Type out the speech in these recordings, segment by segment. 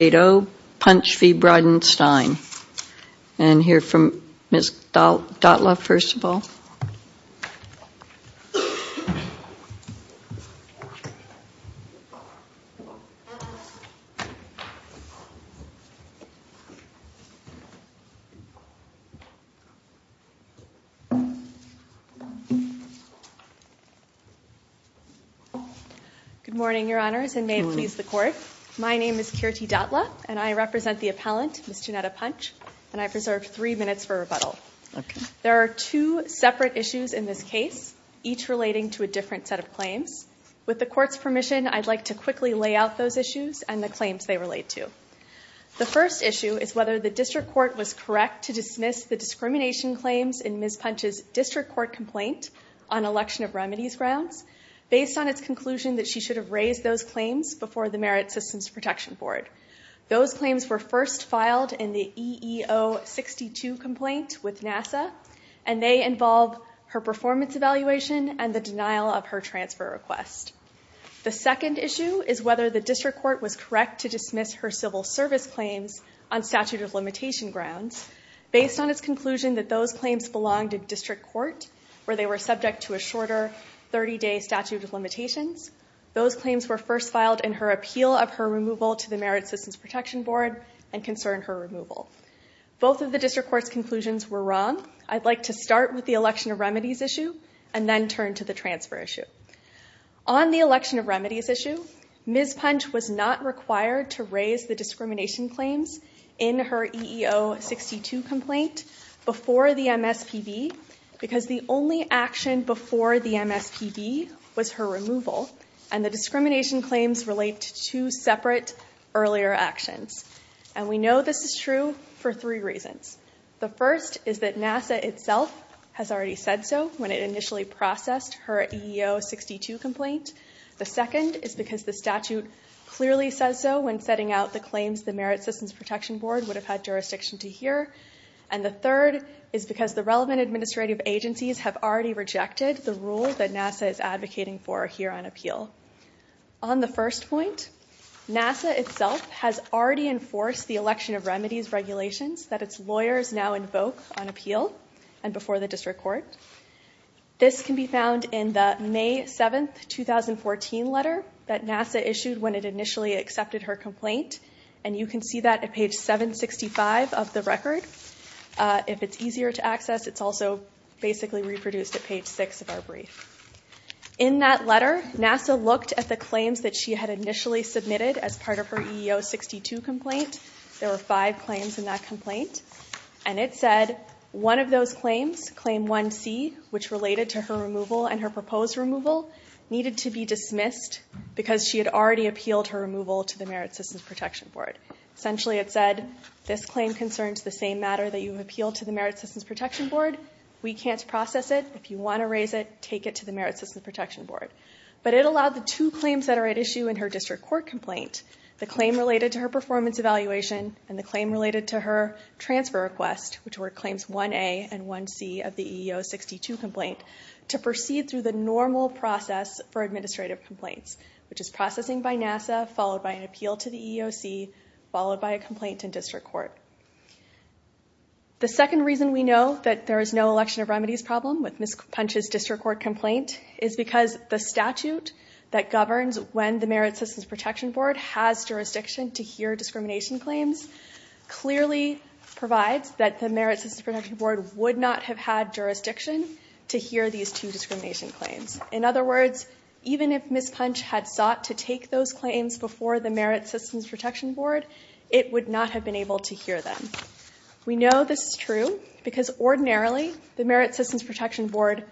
Punch v. Bridenstine. And hear from Ms. Dotla first of all. Good morning, Your Honors, and may it please the Court. My name is Kirti Dotla, and I represent the appellant, Ms. Johnnetta Punch, and I've reserved three minutes for rebuttal. There are two separate issues in this case, each relating to a different set of claims. With the Court's permission, I'd like to quickly lay out those issues and the claims they relate to. The first issue is whether the District Court was correct to dismiss the discrimination claims in Ms. Punch's District Court complaint on election of remedies grounds, based on its conclusion that she should have raised those claims before the Merit Systems Protection Board. Those claims were first filed in the EEO-62 complaint with NASA, and they involve her performance evaluation and the denial of her transfer request. The second issue is whether the District Court was correct to dismiss her civil service claims on statute of limitation grounds, based on its conclusion that those claims belonged to District Court, where they were subject to a shorter 30-day statute of limitations. Those claims were first filed in her appeal of her removal to the Merit Systems Protection Board, and concern her removal. Both of the District Court's conclusions were wrong. I'd like to start with the election of remedies issue, and then turn to the transfer issue. On the election of remedies issue, Ms. Punch was not required to raise the discrimination claims in her EEO-62 complaint before the MSPB, because the only action before the MSPB was her removal, and the discrimination claims relate to two separate earlier actions. And we know this is true for three reasons. The first is that NASA itself has already said so, when it initially processed her EEO-62 complaint. The second is because the statute clearly says so when setting out the claims the Merit Systems Protection Board would have had jurisdiction to hear. And the third is because the relevant administrative agencies have already rejected the rule that NASA is advocating for here on appeal. On the first point, NASA itself has already enforced the election of remedies regulations that its lawyers now invoke on appeal, and before the District Court. This can be found in the May 7, 2014 letter that NASA issued when it initially accepted her complaint, and you can see that at page 765 of the record. If it's easier to access, it's also basically reproduced at page 6 of our brief. In that letter, NASA looked at the claims that she had initially submitted as part of her EEO-62 complaint. There were five claims in that complaint, and it said one of those claims, claim 1C, which related to her removal and her proposed removal, needed to be dismissed because she had already appealed her removal to the Merit Systems Protection Board. Essentially it said, this claim concerns the same matter that you have appealed to the Merit Systems Protection Board. We can't process it. If you want to raise it, take it to the Merit Systems Protection Board. But it allowed the two claims that are at issue in her District Court complaint, the claim related to her performance evaluation, and the claim related to her transfer request, which were claims 1A and 1C of the EEO-62 complaint, to proceed through the normal process for administrative complaints, which is processing by NASA, followed by an appeal to the EEOC, followed by a complaint in District Court. The second reason we know that there is no election of remedies problem with Ms. Punch's District Court complaint is because the statute that governs when the Merit Systems Protection Board has jurisdiction to hear discrimination claims clearly provides that the Merit Systems Protection Board would not have had jurisdiction to hear these two discrimination claims. In other words, even if Ms. Punch had sought to take those claims before the Merit Systems Protection Board, it would not have been able to hear them. We know this is true because ordinarily the Merit Systems Protection Board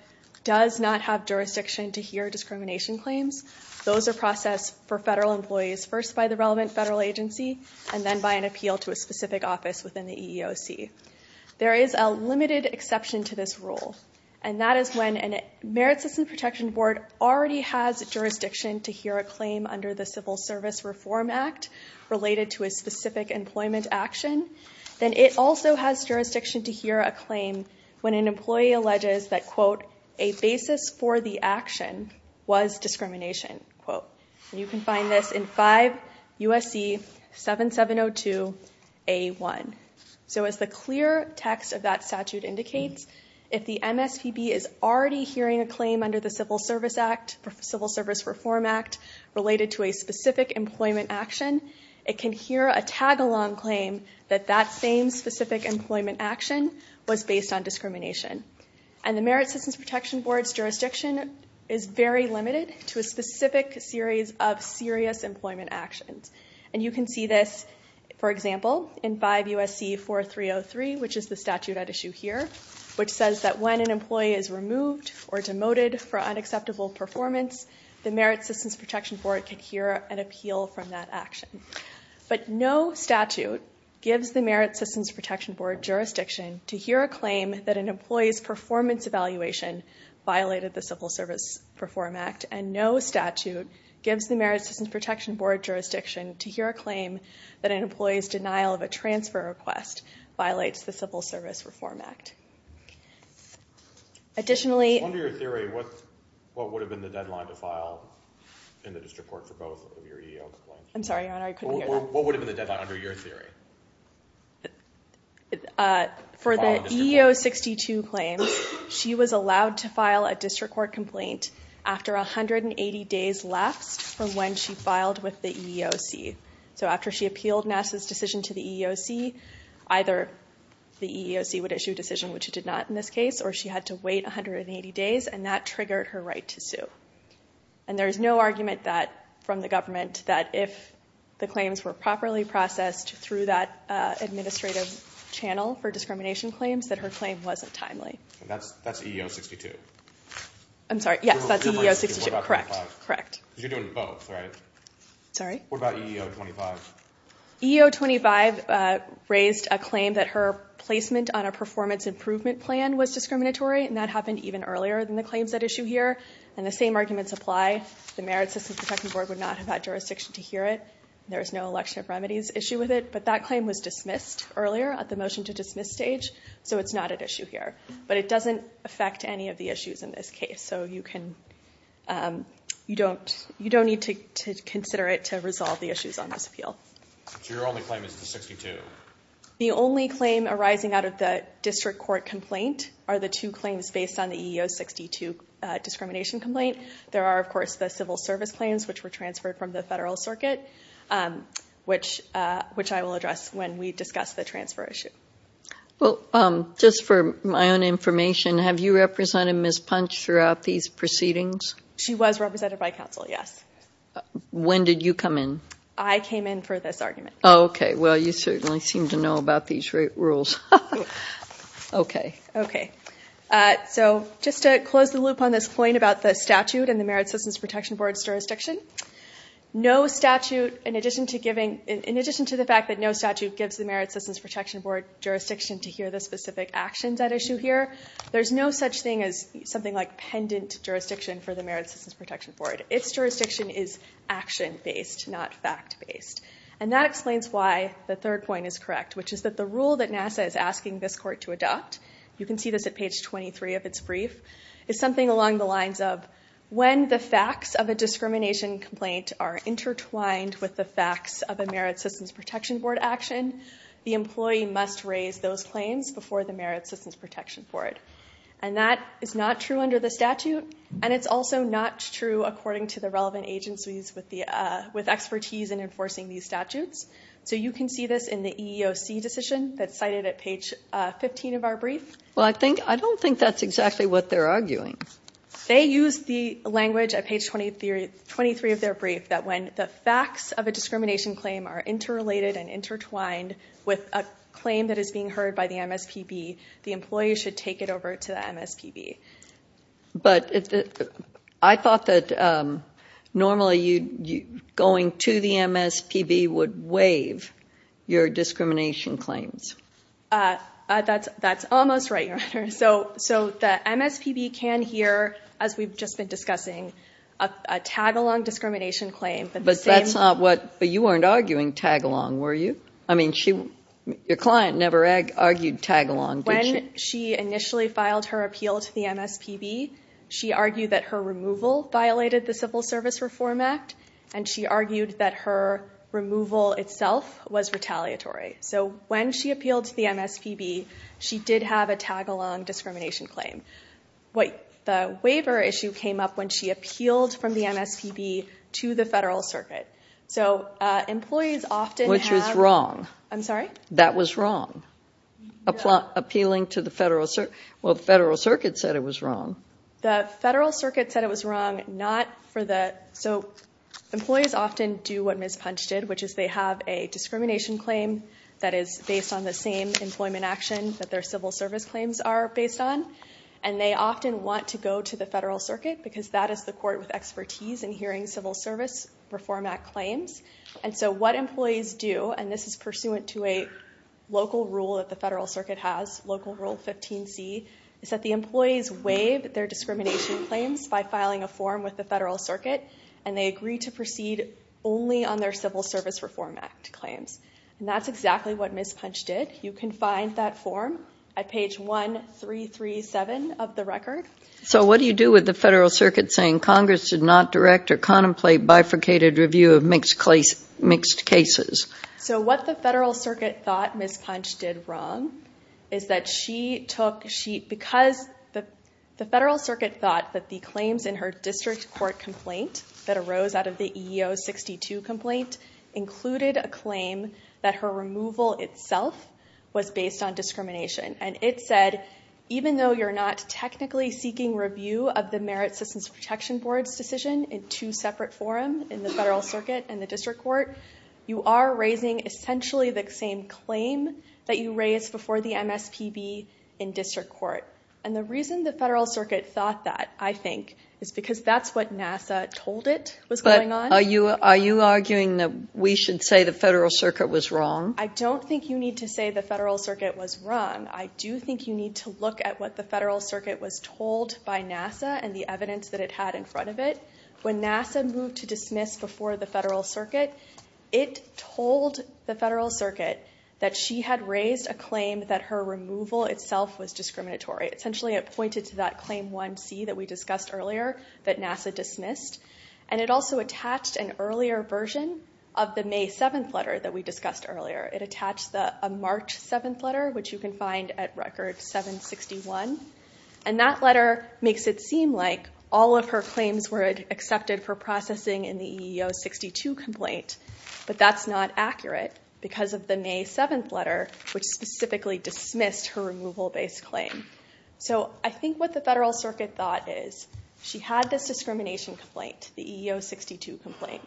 has jurisdiction to hear discrimination claims. Those are processed for federal employees first by the relevant federal agency and then by an appeal to a specific office within the EEOC. There is a limited exception to this rule, and that is when a Merit Systems Protection Board already has jurisdiction to hear a claim under the Civil Service Reform Act related to a specific employment action, then it also has jurisdiction to hear a claim when an employee alleges that, quote, a basis for the action was discrimination, quote. You can find this in 5 U.S.C. 7702A1. So as the clear text of that statute indicates, if the MSPB is already hearing a claim under the Civil Service Reform Act related to a specific employment action, it can hear a tag-along claim that that same specific employment action was based on discrimination. And the Merit Systems Protection Board's jurisdiction is very limited to a specific series of serious employment actions. And you can see this, for example, in 5 U.S.C. 4303, which is the statute at issue here, which says that when an employee is removed or demoted for unacceptable performance, the Merit Systems Protection Board can hear an appeal from that action. But no statute gives the Merit Systems Protection Board jurisdiction to hear a claim that an employee's performance evaluation violated the Civil Service Reform Act, and no statute gives the Merit Systems Protection Board jurisdiction to hear a claim that an employee's denial of a transfer request violates the Civil Service Reform Act. Additionally- Under your theory, what would have been the deadline to file in the district court for both of your EEO complaints? I'm sorry, Your Honor, I couldn't hear that. What would have been the deadline under your theory? For the EEO 62 claims, she was allowed to file a district court complaint after 180 days left from when she filed with the EEOC. So after she appealed NASA's decision to the EEOC, either the EEOC would issue a decision, which it did not in this case, or she had to wait 180 days, and that triggered her right to sue. And there is no argument from the government that if the claims were properly processed through that administrative channel for discrimination claims, that her claim wasn't timely. That's EEO 62? I'm sorry, yes, that's EEO 62. What about EEO 25? Correct, correct. You're doing both, right? Sorry? What about EEO 25? EEO 25 raised a claim that her placement on a performance improvement plan was discriminatory, and that happened even earlier than the claims at issue here, and the same arguments apply. The Merit Systems Protection Board would not have had jurisdiction to hear it. There is no election of remedies issue with it, but that claim was dismissed earlier at the motion to dismiss stage, so it's not at issue here. But it doesn't affect any of the issues in this case, so you don't need to consider it to resolve the issues on this appeal. So your only claim is the 62? The only claim arising out of the district court complaint are the two claims based on the EEO 62 discrimination complaint. There are, of course, the civil service claims, which were transferred from the federal circuit, which I will address when we discuss the transfer issue. Well, just for my own information, have you represented Ms. Punch throughout these proceedings? She was represented by counsel, yes. When did you come in? I came in for this argument. Oh, okay. Well, you certainly seem to know about these rules. Okay. Okay. So just to close the loop on this point about the statute and the Merit Systems Protection Board's jurisdiction, in addition to the fact that no statute gives the Merit Systems Protection Board jurisdiction to hear the specific actions at issue here, there's no such thing as something like pendant jurisdiction for the Merit Systems Protection Board. Its jurisdiction is action-based, not fact-based. And that explains why the third point is correct, which is that the rule that NASA is asking this court to adopt, you can see this at page 23 of its brief, is something along the lines of, when the facts of a discrimination complaint are intertwined with the facts of a Merit Systems Protection Board action, the employee must raise those claims before the Merit Systems Protection Board. And that is not true under the statute, and it's also not true according to the relevant agencies with expertise in enforcing these statutes. So you can see this in the EEOC decision that's cited at page 15 of our brief. Well, I don't think that's exactly what they're arguing. They use the language at page 23 of their brief that when the facts of a discrimination claim are interrelated and intertwined with a claim that is being heard by the MSPB, the employee should take it over to the MSPB. But I thought that normally going to the MSPB would waive your discrimination claims. That's almost right, Your Honor. So the MSPB can hear, as we've just been discussing, a tag-along discrimination claim. But that's not what... But you weren't arguing tag-along, were you? I mean, your client never argued tag-along, did she? When she initially filed her appeal to the MSPB, she argued that her removal violated the Civil Service Reform Act, and she argued that her removal itself was retaliatory. So when she appealed to the MSPB, she did have a tag-along discrimination claim. The waiver issue came up when she appealed from the MSPB to the Federal Circuit. So employees often have... Which was wrong. I'm sorry? That was wrong, appealing to the Federal Circuit. Well, the Federal Circuit said it was wrong. The Federal Circuit said it was wrong, not for the... So employees often do what Ms. Punch did, which is they have a discrimination claim that is based on the same employment action that their Civil Service claims are based on, and they often want to go to the Federal Circuit because that is the court with expertise in hearing Civil Service Reform Act claims. And so what employees do, and this is pursuant to a local rule that the Federal Circuit has, Local Rule 15c, is that the employees waive their discrimination claims by filing a form with the Federal Circuit, and they agree to proceed only on their Civil Service Reform Act claims. And that's exactly what Ms. Punch did. You can find that form at page 1337 of the record. So what do you do with the Federal Circuit saying Congress did not direct or contemplate bifurcated review of mixed cases? So what the Federal Circuit thought Ms. Punch did wrong is that she took... Because the district court complaint that arose out of the EEO-62 complaint included a claim that her removal itself was based on discrimination. And it said, even though you're not technically seeking review of the Merit Systems Protection Board's decision in two separate forum, in the Federal Circuit and the district court, you are raising essentially the same claim that you raised before the MSPB in district court. And the reason the Federal Circuit thought that, I think, is because that's what NASA told it was going on. Are you arguing that we should say the Federal Circuit was wrong? I don't think you need to say the Federal Circuit was wrong. I do think you need to look at what the Federal Circuit was told by NASA and the evidence that it had in front of it. When NASA moved to dismiss before the Federal Circuit, it told the Federal Circuit that she had raised a claim that her removal itself was discriminatory. Essentially it pointed to that claim 1C that we discussed earlier that NASA dismissed. And it also attached an earlier version of the May 7th letter that we discussed earlier. It attached a March 7th letter, which you can find at record 761. And that letter makes it seem like all of her claims were accepted for processing in the EEO-62 complaint, but that's not accurate because of the May 7th letter, which specifically dismissed her removal-based claim. So I think what the Federal Circuit thought is she had this discrimination complaint, the EEO-62 complaint.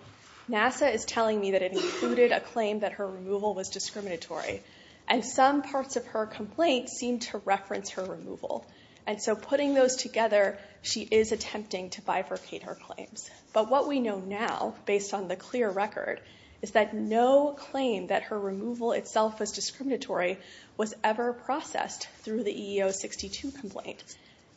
NASA is telling me that it included a claim that her removal was discriminatory. And some parts of her complaint seem to reference her removal. And so putting those together, she is attempting to bifurcate her claims. But what we know now, based on the clear record, is that no claim that her removal itself was discriminatory was ever processed through the EEO-62 complaint.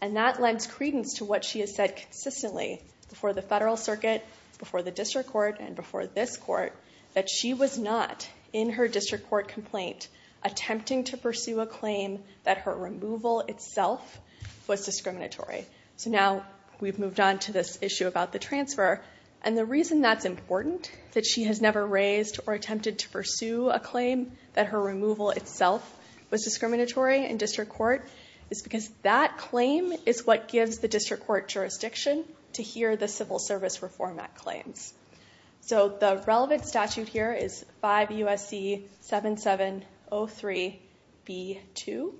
And that lends credence to what she has said consistently before the Federal Circuit, before the district court, and before this court, that she was not in her district court complaint attempting to pursue a claim that her removal itself was discriminatory. So now we've moved on to this issue about the transfer. And the reason that's never raised or attempted to pursue a claim that her removal itself was discriminatory in district court is because that claim is what gives the district court jurisdiction to hear the Civil Service Reform Act claims. So the relevant statute here is 5 U.S.C. 7703b2.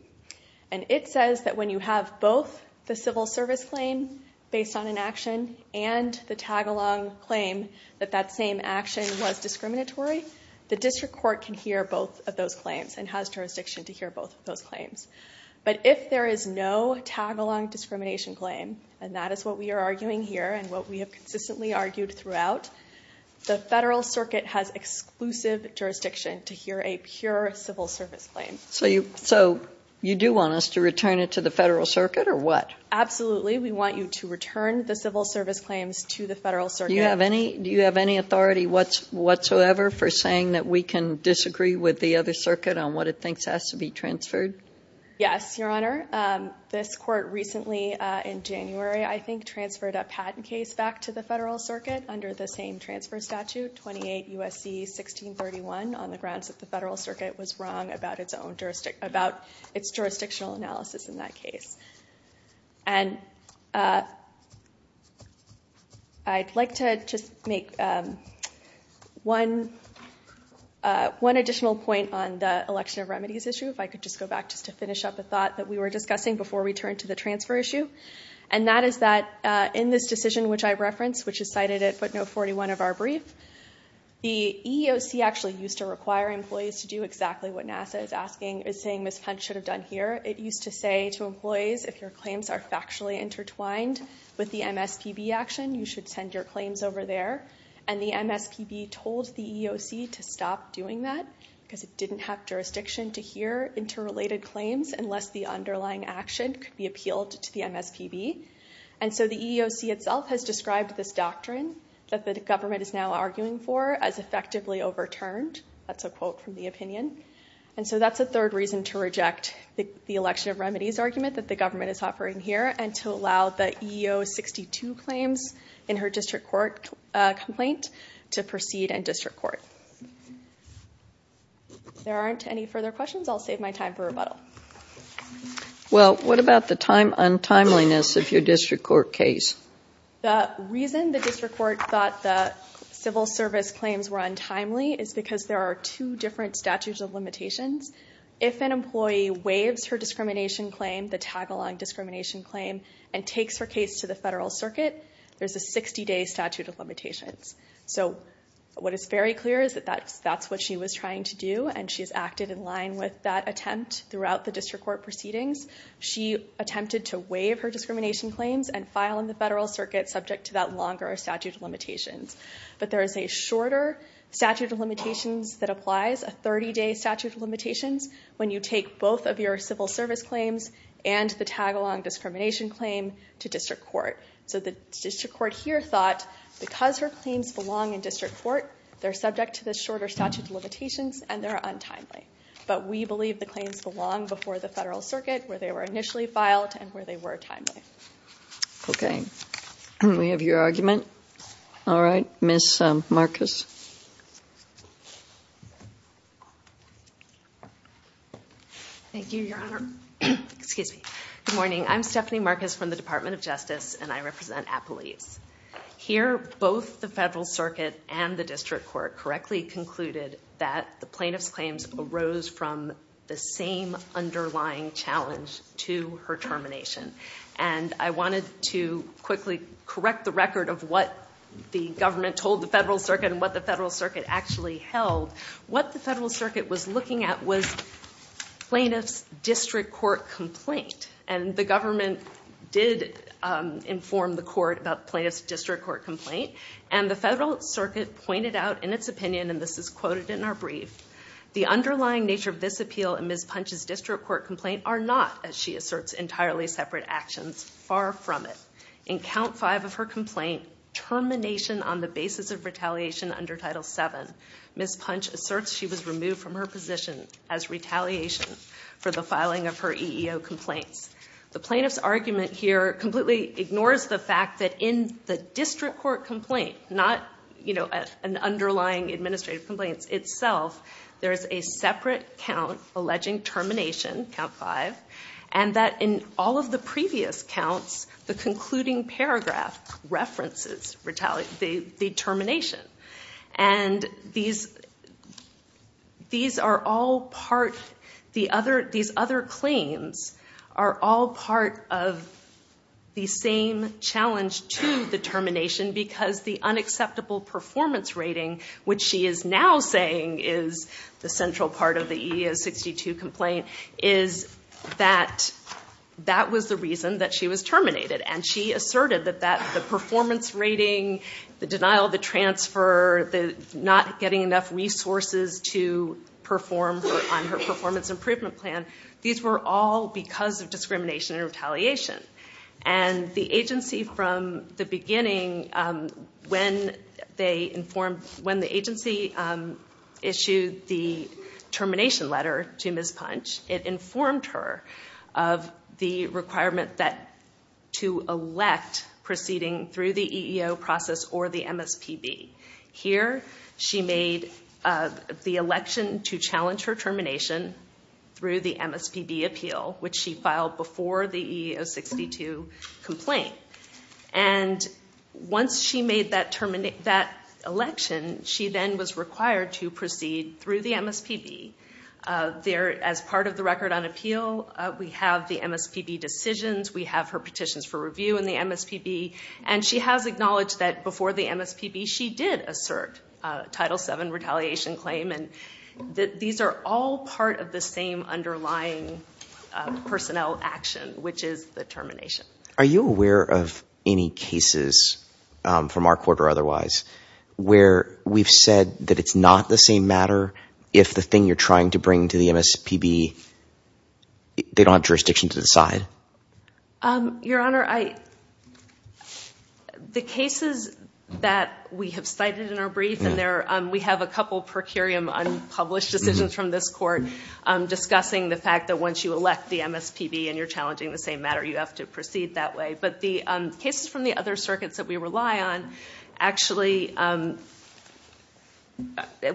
And it says that when you have both the civil service claim based on an action and the tag-along claim that that same action was discriminatory, the district court can hear both of those claims and has jurisdiction to hear both of those claims. But if there is no tag-along discrimination claim, and that is what we are arguing here and what we have consistently argued throughout, the Federal Circuit has exclusive jurisdiction to hear a pure civil service claim. So you do want us to return it to the Federal Circuit or what? Absolutely. We want you to return the civil service claims to the Federal Circuit. Do you have any authority whatsoever for saying that we can disagree with the other circuit on what it thinks has to be transferred? Yes, Your Honor. This court recently in January, I think, transferred a patent case back to the Federal Circuit under the same transfer statute, 28 U.S.C. 1631, on the grounds that the Federal Circuit was wrong about its jurisdictional analysis in that case. And I'd like to just make one additional point on the election of remedies issue if I could just go back just to finish up a thought that we were discussing before we turned to the transfer issue. And that is that in this decision which I referenced, which is cited at footnote 41 of our brief, the EEOC actually used to require employees to do exactly what NASA is saying Ms. Hunt should have done here. It used to say to employees if your claims are factually intertwined with the MSPB action, you should send your claims over there. And the MSPB told the EEOC to stop doing that because it didn't have jurisdiction to hear interrelated claims unless the underlying action could be appealed to the MSPB. And so the EEOC itself has described this doctrine that the government is now arguing for as an opinion. And so that's a third reason to reject the election of remedies argument that the government is offering here and to allow the EEO 62 claims in her district court complaint to proceed in district court. If there aren't any further questions, I'll save my time for rebuttal. Well, what about the untimeliness of your district court case? The reason the district court thought the civil service claims were untimely is because there are two different statutes of limitations. If an employee waives her discrimination claim, the tag-along discrimination claim, and takes her case to the federal circuit, there's a 60-day statute of limitations. So what is very clear is that that's what she was trying to do, and she's acted in line with that attempt throughout the district court proceedings. She attempted to waive her discrimination claims and file in the federal circuit subject to that longer statute of limitations. But there is a shorter statute of limitations that applies, a 30-day statute of limitations, when you take both of your civil service claims and the tag-along discrimination claim to district court. So the district court here thought because her claims belong in district court, they're subject to the shorter statute of limitations and they're untimely. But we believe the claims belong before the federal circuit where they were initially filed and where they were timely. Okay. We have your argument. All right. Ms. Marcus. Thank you, Your Honor. Excuse me. Good morning. I'm Stephanie Marcus from the Department of Justice, and I represent Appalease. Here, both the federal circuit and the district court correctly concluded that the plaintiff's claims arose from the same underlying challenge to her discrimination. And I wanted to quickly correct the record of what the government told the federal circuit and what the federal circuit actually held. What the federal circuit was looking at was plaintiff's district court complaint. And the government did inform the court about the plaintiff's district court complaint. And the federal circuit pointed out in its opinion, and this is quoted in our brief, the underlying nature of this appeal and Ms. Punch's district court complaint are not, as she asserts, entirely separate actions. Far from it. In count five of her complaint, termination on the basis of retaliation under Title VII, Ms. Punch asserts she was removed from her position as retaliation for the filing of her EEO complaints. The plaintiff's argument here completely ignores the fact that in the district court complaint, not an underlying administrative complaint itself, there is a separate count alleging termination, count five, and that in all of the previous counts, the concluding paragraph references the termination. And these are all part, these other claims are all part of the same challenge to the termination because the unacceptable performance rating, which she is now saying is the central part of the EEO 62 complaint, is that that was the reason that she was terminated. And she asserted that the performance rating, the denial of the transfer, the not getting enough resources to perform on her performance improvement plan, these were all because of discrimination and retaliation. And the agency from the beginning, when the agency issued the termination letter to Ms. Punch, it informed her of the requirement to elect proceeding through the EEO process or the MSPB. Here she made the election to challenge her termination through the MSPB appeal, which she filed before the EEO 62 complaint. And once she made that election, she then was required to proceed through the MSPB. As part of the record on appeal, we have the MSPB decisions, we have her petitions for review in the MSPB, and she has acknowledged that before the MSPB she did assert a Title VII retaliation claim. And these are all part of the same underlying personnel action, which is the termination. Are you aware of any cases from our court or otherwise where we've said that it's not the same matter if the thing you're trying to bring to the MSPB, they don't have jurisdiction to decide? Your Honor, the cases that we have cited in our brief, and we have a couple per curiam unpublished decisions from this court discussing the fact that once you elect the MSPB and you're challenging the same matter, you have to proceed that way. But the cases from the other circuits that we rely on, actually, one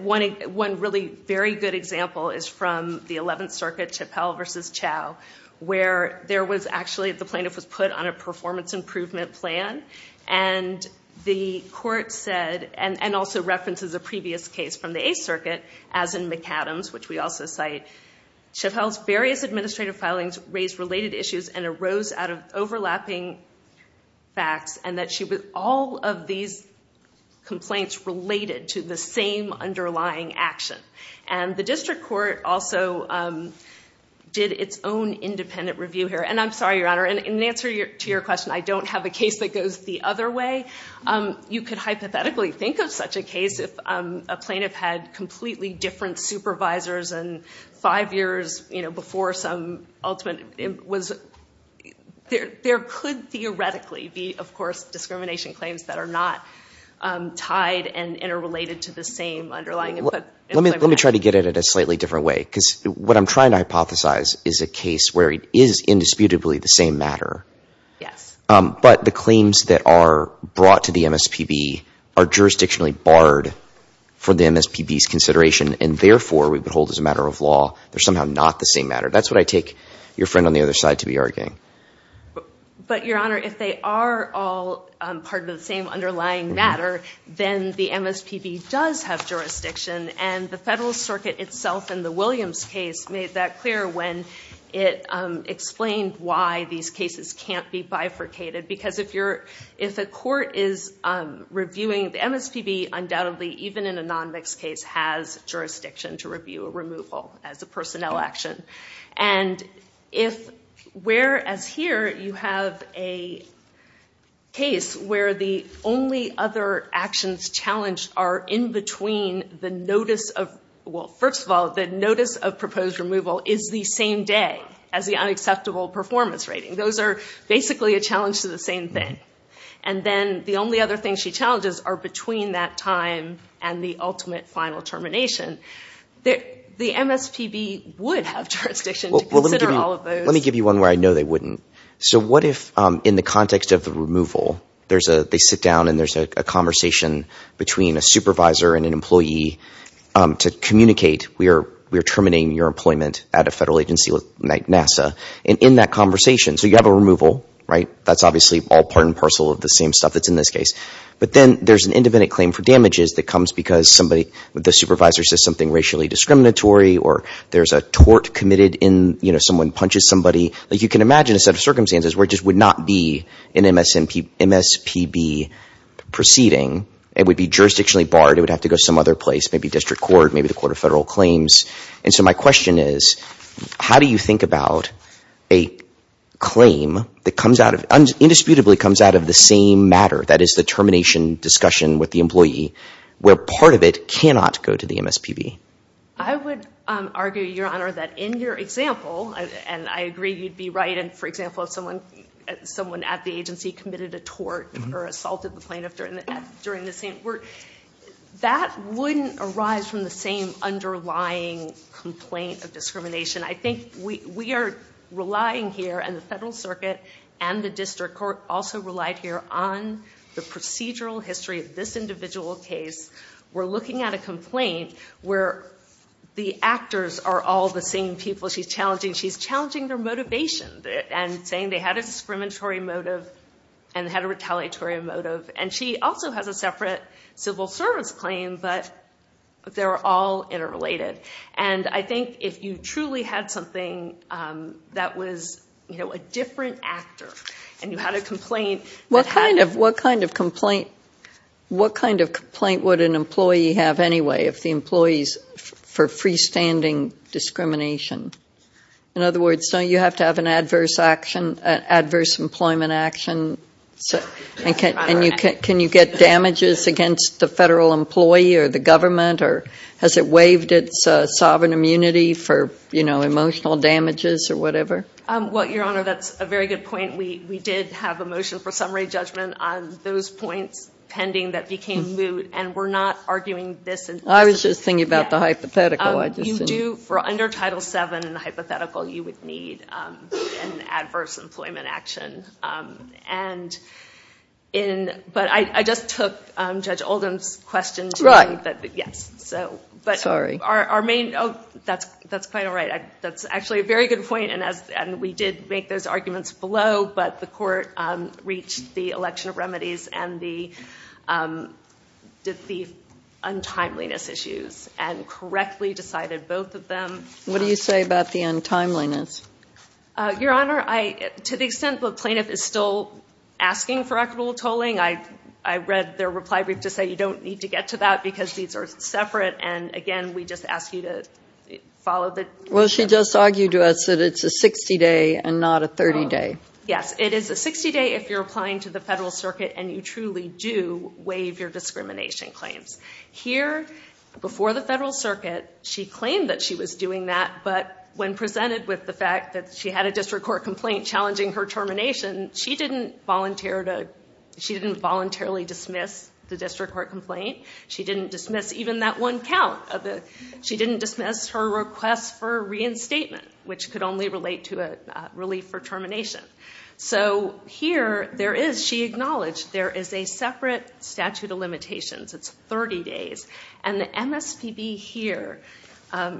really very good example is from the Eleventh Circuit, Chappell v. Chau, where there was actually, the plaintiff was put on a performance improvement plan, and the court said, and also references a previous case from the Eighth Circuit, as in McAdams, which we also cite, Chappell's various administrative filings raised related issues and arose out of overlapping facts, and that she was, all of these complaints related to the same underlying action. And the district court also did its own independent review here. And I'm sorry, Your Honor, in answer to your question, I don't have a case that goes the other way. You could hypothetically think of such a case if a plaintiff had completely different supervisors and five years before some ultimate, there could theoretically be, of course, discrimination claims that are not tied and interrelated to the same underlying input. Let me try to get at it a slightly different way, because what I'm trying to hypothesize is a case where it is indisputably the same matter. Yes. But the claims that are brought to the MSPB are jurisdictionally barred for the MSPB's consideration, and therefore we would hold as a matter of law they're somehow not the same matter. That's what I take your friend on the other side to be arguing. But, Your Honor, if they are all part of the same underlying matter, then the MSPB does have jurisdiction. And the Federalist Circuit itself in the Williams case made that clear when it explained why these cases can't be bifurcated. Because if a court is reviewing the MSPB, undoubtedly even in a non-mixed case has jurisdiction to review a removal as a personnel action. And if whereas here you have a case where the only other actions challenged are in between the notice of, well, first of all, the notice of proposed removal is the same day as the unacceptable performance rating. Those are basically a challenge to the same thing. And then the only other things she challenges are between that time and the ultimate final determination. The MSPB would have jurisdiction to consider all of those. Well, let me give you one where I know they wouldn't. So what if in the context of the removal, they sit down and there's a conversation between a supervisor and an employee to communicate we are terminating your employment at a federal agency like NASA. And in that conversation, so you have a removal, right? That's obviously all part and parcel of the same stuff that's in this case. But then there's an independent claim for damages that comes because somebody with the supervisor says something racially discriminatory or there's a tort committed in, you know, someone punches somebody. Like you can imagine a set of circumstances where it just would not be an MSPB proceeding. It would be jurisdictionally barred. It would have to go some other place, maybe district court, maybe the court of federal claims. And so my question is, how do you think about a claim that comes out of, indisputably comes out of the same matter, that is the termination discussion with the MSPB? I would argue, Your Honor, that in your example, and I agree you'd be right. And for example, if someone at the agency committed a tort or assaulted the plaintiff during the same work, that wouldn't arise from the same underlying complaint of discrimination. I think we are relying here and the federal circuit and the district court also relied here on the procedural history of this individual case. We're looking at a complaint where the actors are all the same people she's challenging. She's challenging their motivation and saying they had a discriminatory motive and had a retaliatory motive. And she also has a separate civil service claim, but they're all interrelated. And I think if you truly had something that was, you know, a different actor and you had a complaint that had What kind of complaint would an employee have anyway if the employee is for freestanding discrimination? In other words, don't you have to have an adverse action, an adverse employment action? And can you get damages against the federal employee or the government or has it waived its sovereign immunity for, you know, emotional damages or whatever? Well, Your Honor, that's a very good point. We did have a motion for summary judgment on those points pending that became moot. And we're not arguing this. I was just thinking about the hypothetical. You do, for under Title VII and the hypothetical, you would need an adverse employment action. And in, but I just took Judge Oldham's question. Right. Yes, so. Sorry. That's quite all right. That's actually a very good point. And we did make those arguments below, but the court reached the election of remedies and the untimeliness issues and correctly decided both of them. What do you say about the untimeliness? Your Honor, to the extent the plaintiff is still asking for equitable tolling, I read their reply brief to say you don't need to get to that because these are separate. And again, we just ask you to follow the. Well, she just argued to us that it's a 60-day and not a 30-day. Yes, it is a 60-day if you're applying to the federal circuit and you truly do waive your discrimination claims. Here, before the federal circuit, she claimed that she was doing that, but when presented with the fact that she had a district court complaint challenging her termination, she didn't voluntarily dismiss the district court complaint. She didn't dismiss even that one count. She didn't dismiss her request for reinstatement, which could only relate to a relief for termination. So here, she acknowledged there is a separate statute of limitations. It's 30 days. And the MSPB here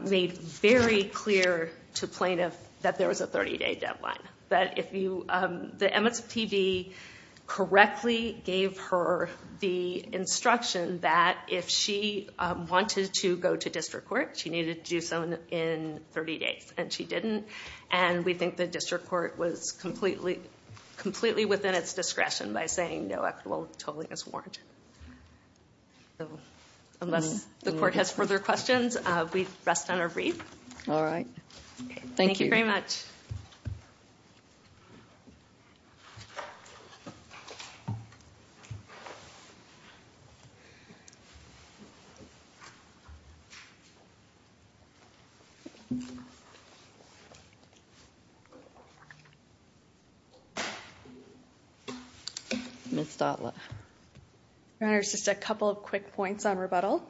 made very clear to plaintiff that there was a 30-day deadline. The MSPB correctly gave her the instruction that if she wanted to go to district court, she needed to do so in 30 days, and she didn't. And we think the district court was completely within its discretion by saying no equitable tolling is warranted. Unless the court has further questions, we rest on our brief. All right. Thank you. Thank you very much. Your Honor, just a couple of quick points on rebuttal.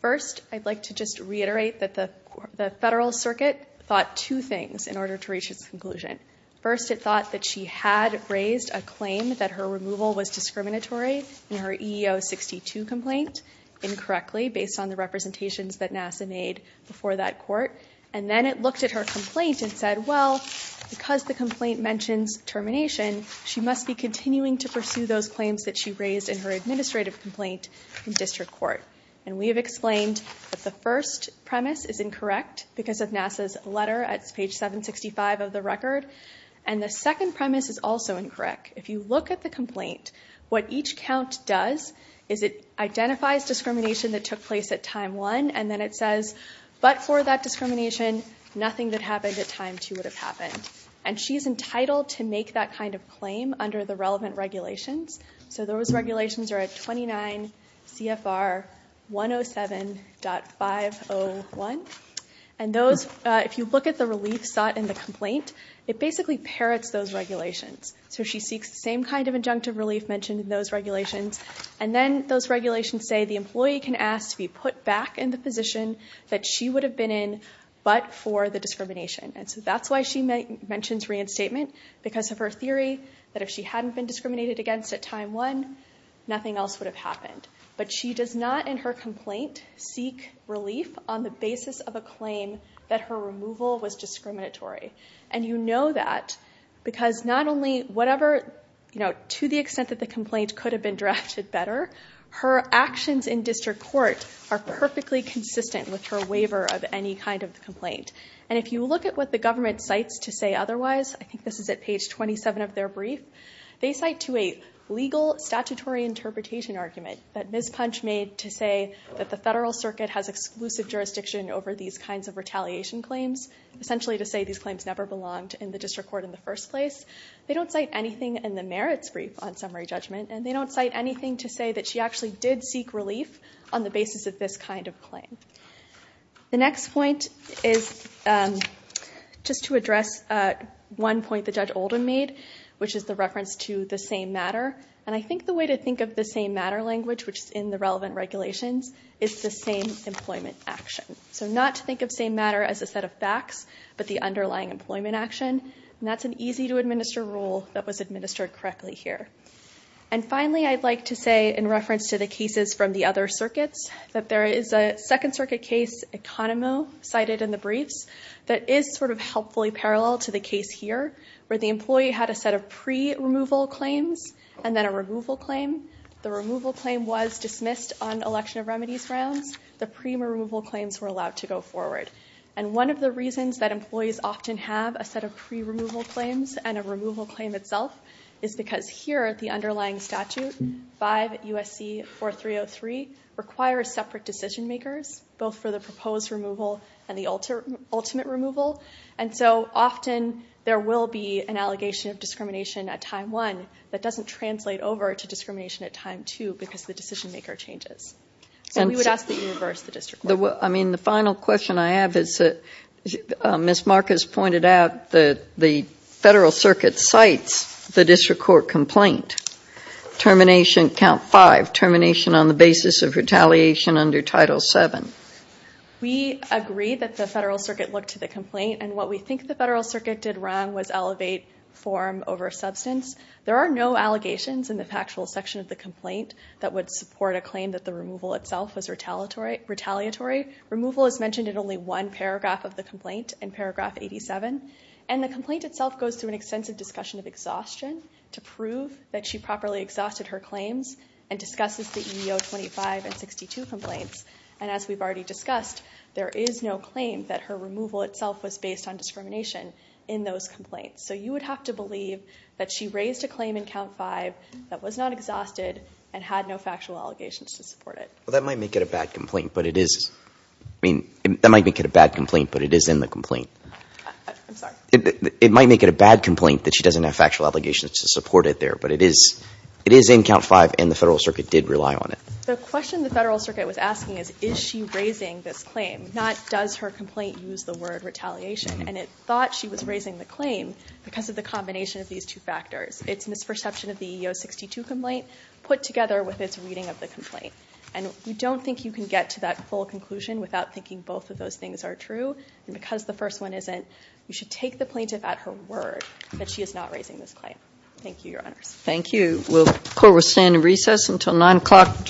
First, I'd like to just reiterate that the Federal Circuit thought two things in order to reach its conclusion. First, it thought that she had raised a claim that her removal was discriminatory in her EEO 62 complaint, incorrectly based on the representations that NASA made before that court. And then it looked at her complaint and said, well, because the complaint mentions termination, she must be continuing to pursue those claims that she made. And we have explained that the first premise is incorrect because of NASA's letter at page 765 of the record. And the second premise is also incorrect. If you look at the complaint, what each count does is it identifies discrimination that took place at time one, and then it says, but for that discrimination, nothing that happened at time two would have happened. And she's entitled to make that kind of claim under the relevant regulations. So those regulations are at 29 CFR 107.501. And those, if you look at the relief sought in the complaint, it basically parrots those regulations. So she seeks the same kind of injunctive relief mentioned in those regulations. And then those regulations say the employee can ask to be put back in the position that she would have been in, but for the discrimination. And so that's why she mentions reinstatement, because of her theory that if she hadn't been discriminated against at time one, nothing else would have happened. But she does not in her complaint seek relief on the basis of a claim that her removal was discriminatory. And you know that because not only whatever, you know, to the extent that the complaint could have been drafted better, her actions in district court are perfectly consistent with her waiver of any kind of complaint. And if you look at what the government cites to say otherwise, I think this is at page 27 of their brief, they cite to a legal statutory interpretation argument that Ms. Punch made to say that the federal circuit has exclusive jurisdiction over these kinds of retaliation claims, essentially to say these claims never belonged in the district court in the first place. They don't cite anything in the merits brief on summary judgment. And they don't cite anything to say that she actually did seek relief on the basis of this kind of claim. The next point is just to address one point that Judge Oldham made, which is the reference to the same matter. And I think the way to think of the same matter language, which is in the relevant regulations, is the same employment action. So not to think of same matter as a set of facts, but the underlying employment action. And that's an easy to administer rule that was administered correctly here. And finally, I'd like to say in reference to the Second Circuit case Economo cited in the briefs, that is sort of helpfully parallel to the case here, where the employee had a set of pre-removal claims and then a removal claim. The removal claim was dismissed on election of remedies rounds. The pre-removal claims were allowed to go forward. And one of the reasons that employees often have a set of pre-removal claims and a removal claim itself is because here at the underlying statute, 5 U.S.C. 4303, requires separate decision makers, both for the proposed removal and the ultimate removal. And so often there will be an allegation of discrimination at time one that doesn't translate over to discrimination at time two because the decision maker changes. So we would ask that you reverse the district court. I mean, the final question I have is that Ms. Marcus pointed out that the Federal Circuit cites the district court complaint, termination, count five, termination on the basis of retaliation under Title VII. We agree that the Federal Circuit looked to the complaint. And what we think the Federal Circuit did wrong was elevate form over substance. There are no allegations in the factual section of the complaint that would support a claim that the removal itself was retaliatory. Removal is mentioned in only one paragraph of the Discussion of Exhaustion to prove that she properly exhausted her claims and discusses the EEO 25 and 62 complaints. And as we've already discussed, there is no claim that her removal itself was based on discrimination in those complaints. So you would have to believe that she raised a claim in count five that was not exhausted and had no factual allegations to support it. Well, that might make it a bad complaint, but it is. I mean, that might make it a bad complaint, but it is in the complaint. I'm sorry. It might make it a bad complaint that she doesn't have factual obligations to support it there, but it is in count five and the Federal Circuit did rely on it. The question the Federal Circuit was asking is, is she raising this claim, not does her complaint use the word retaliation? And it thought she was raising the claim because of the combination of these two factors. It's misperception of the EEO 62 complaint put together with its reading of the complaint. And we don't think you can get to that full conclusion without thinking both of those things are true. And because the first one isn't, you should take the plaintiff at her word that she is not raising this claim. Thank you, Your Honors. Thank you. We'll call the standing recess until nine o'clock.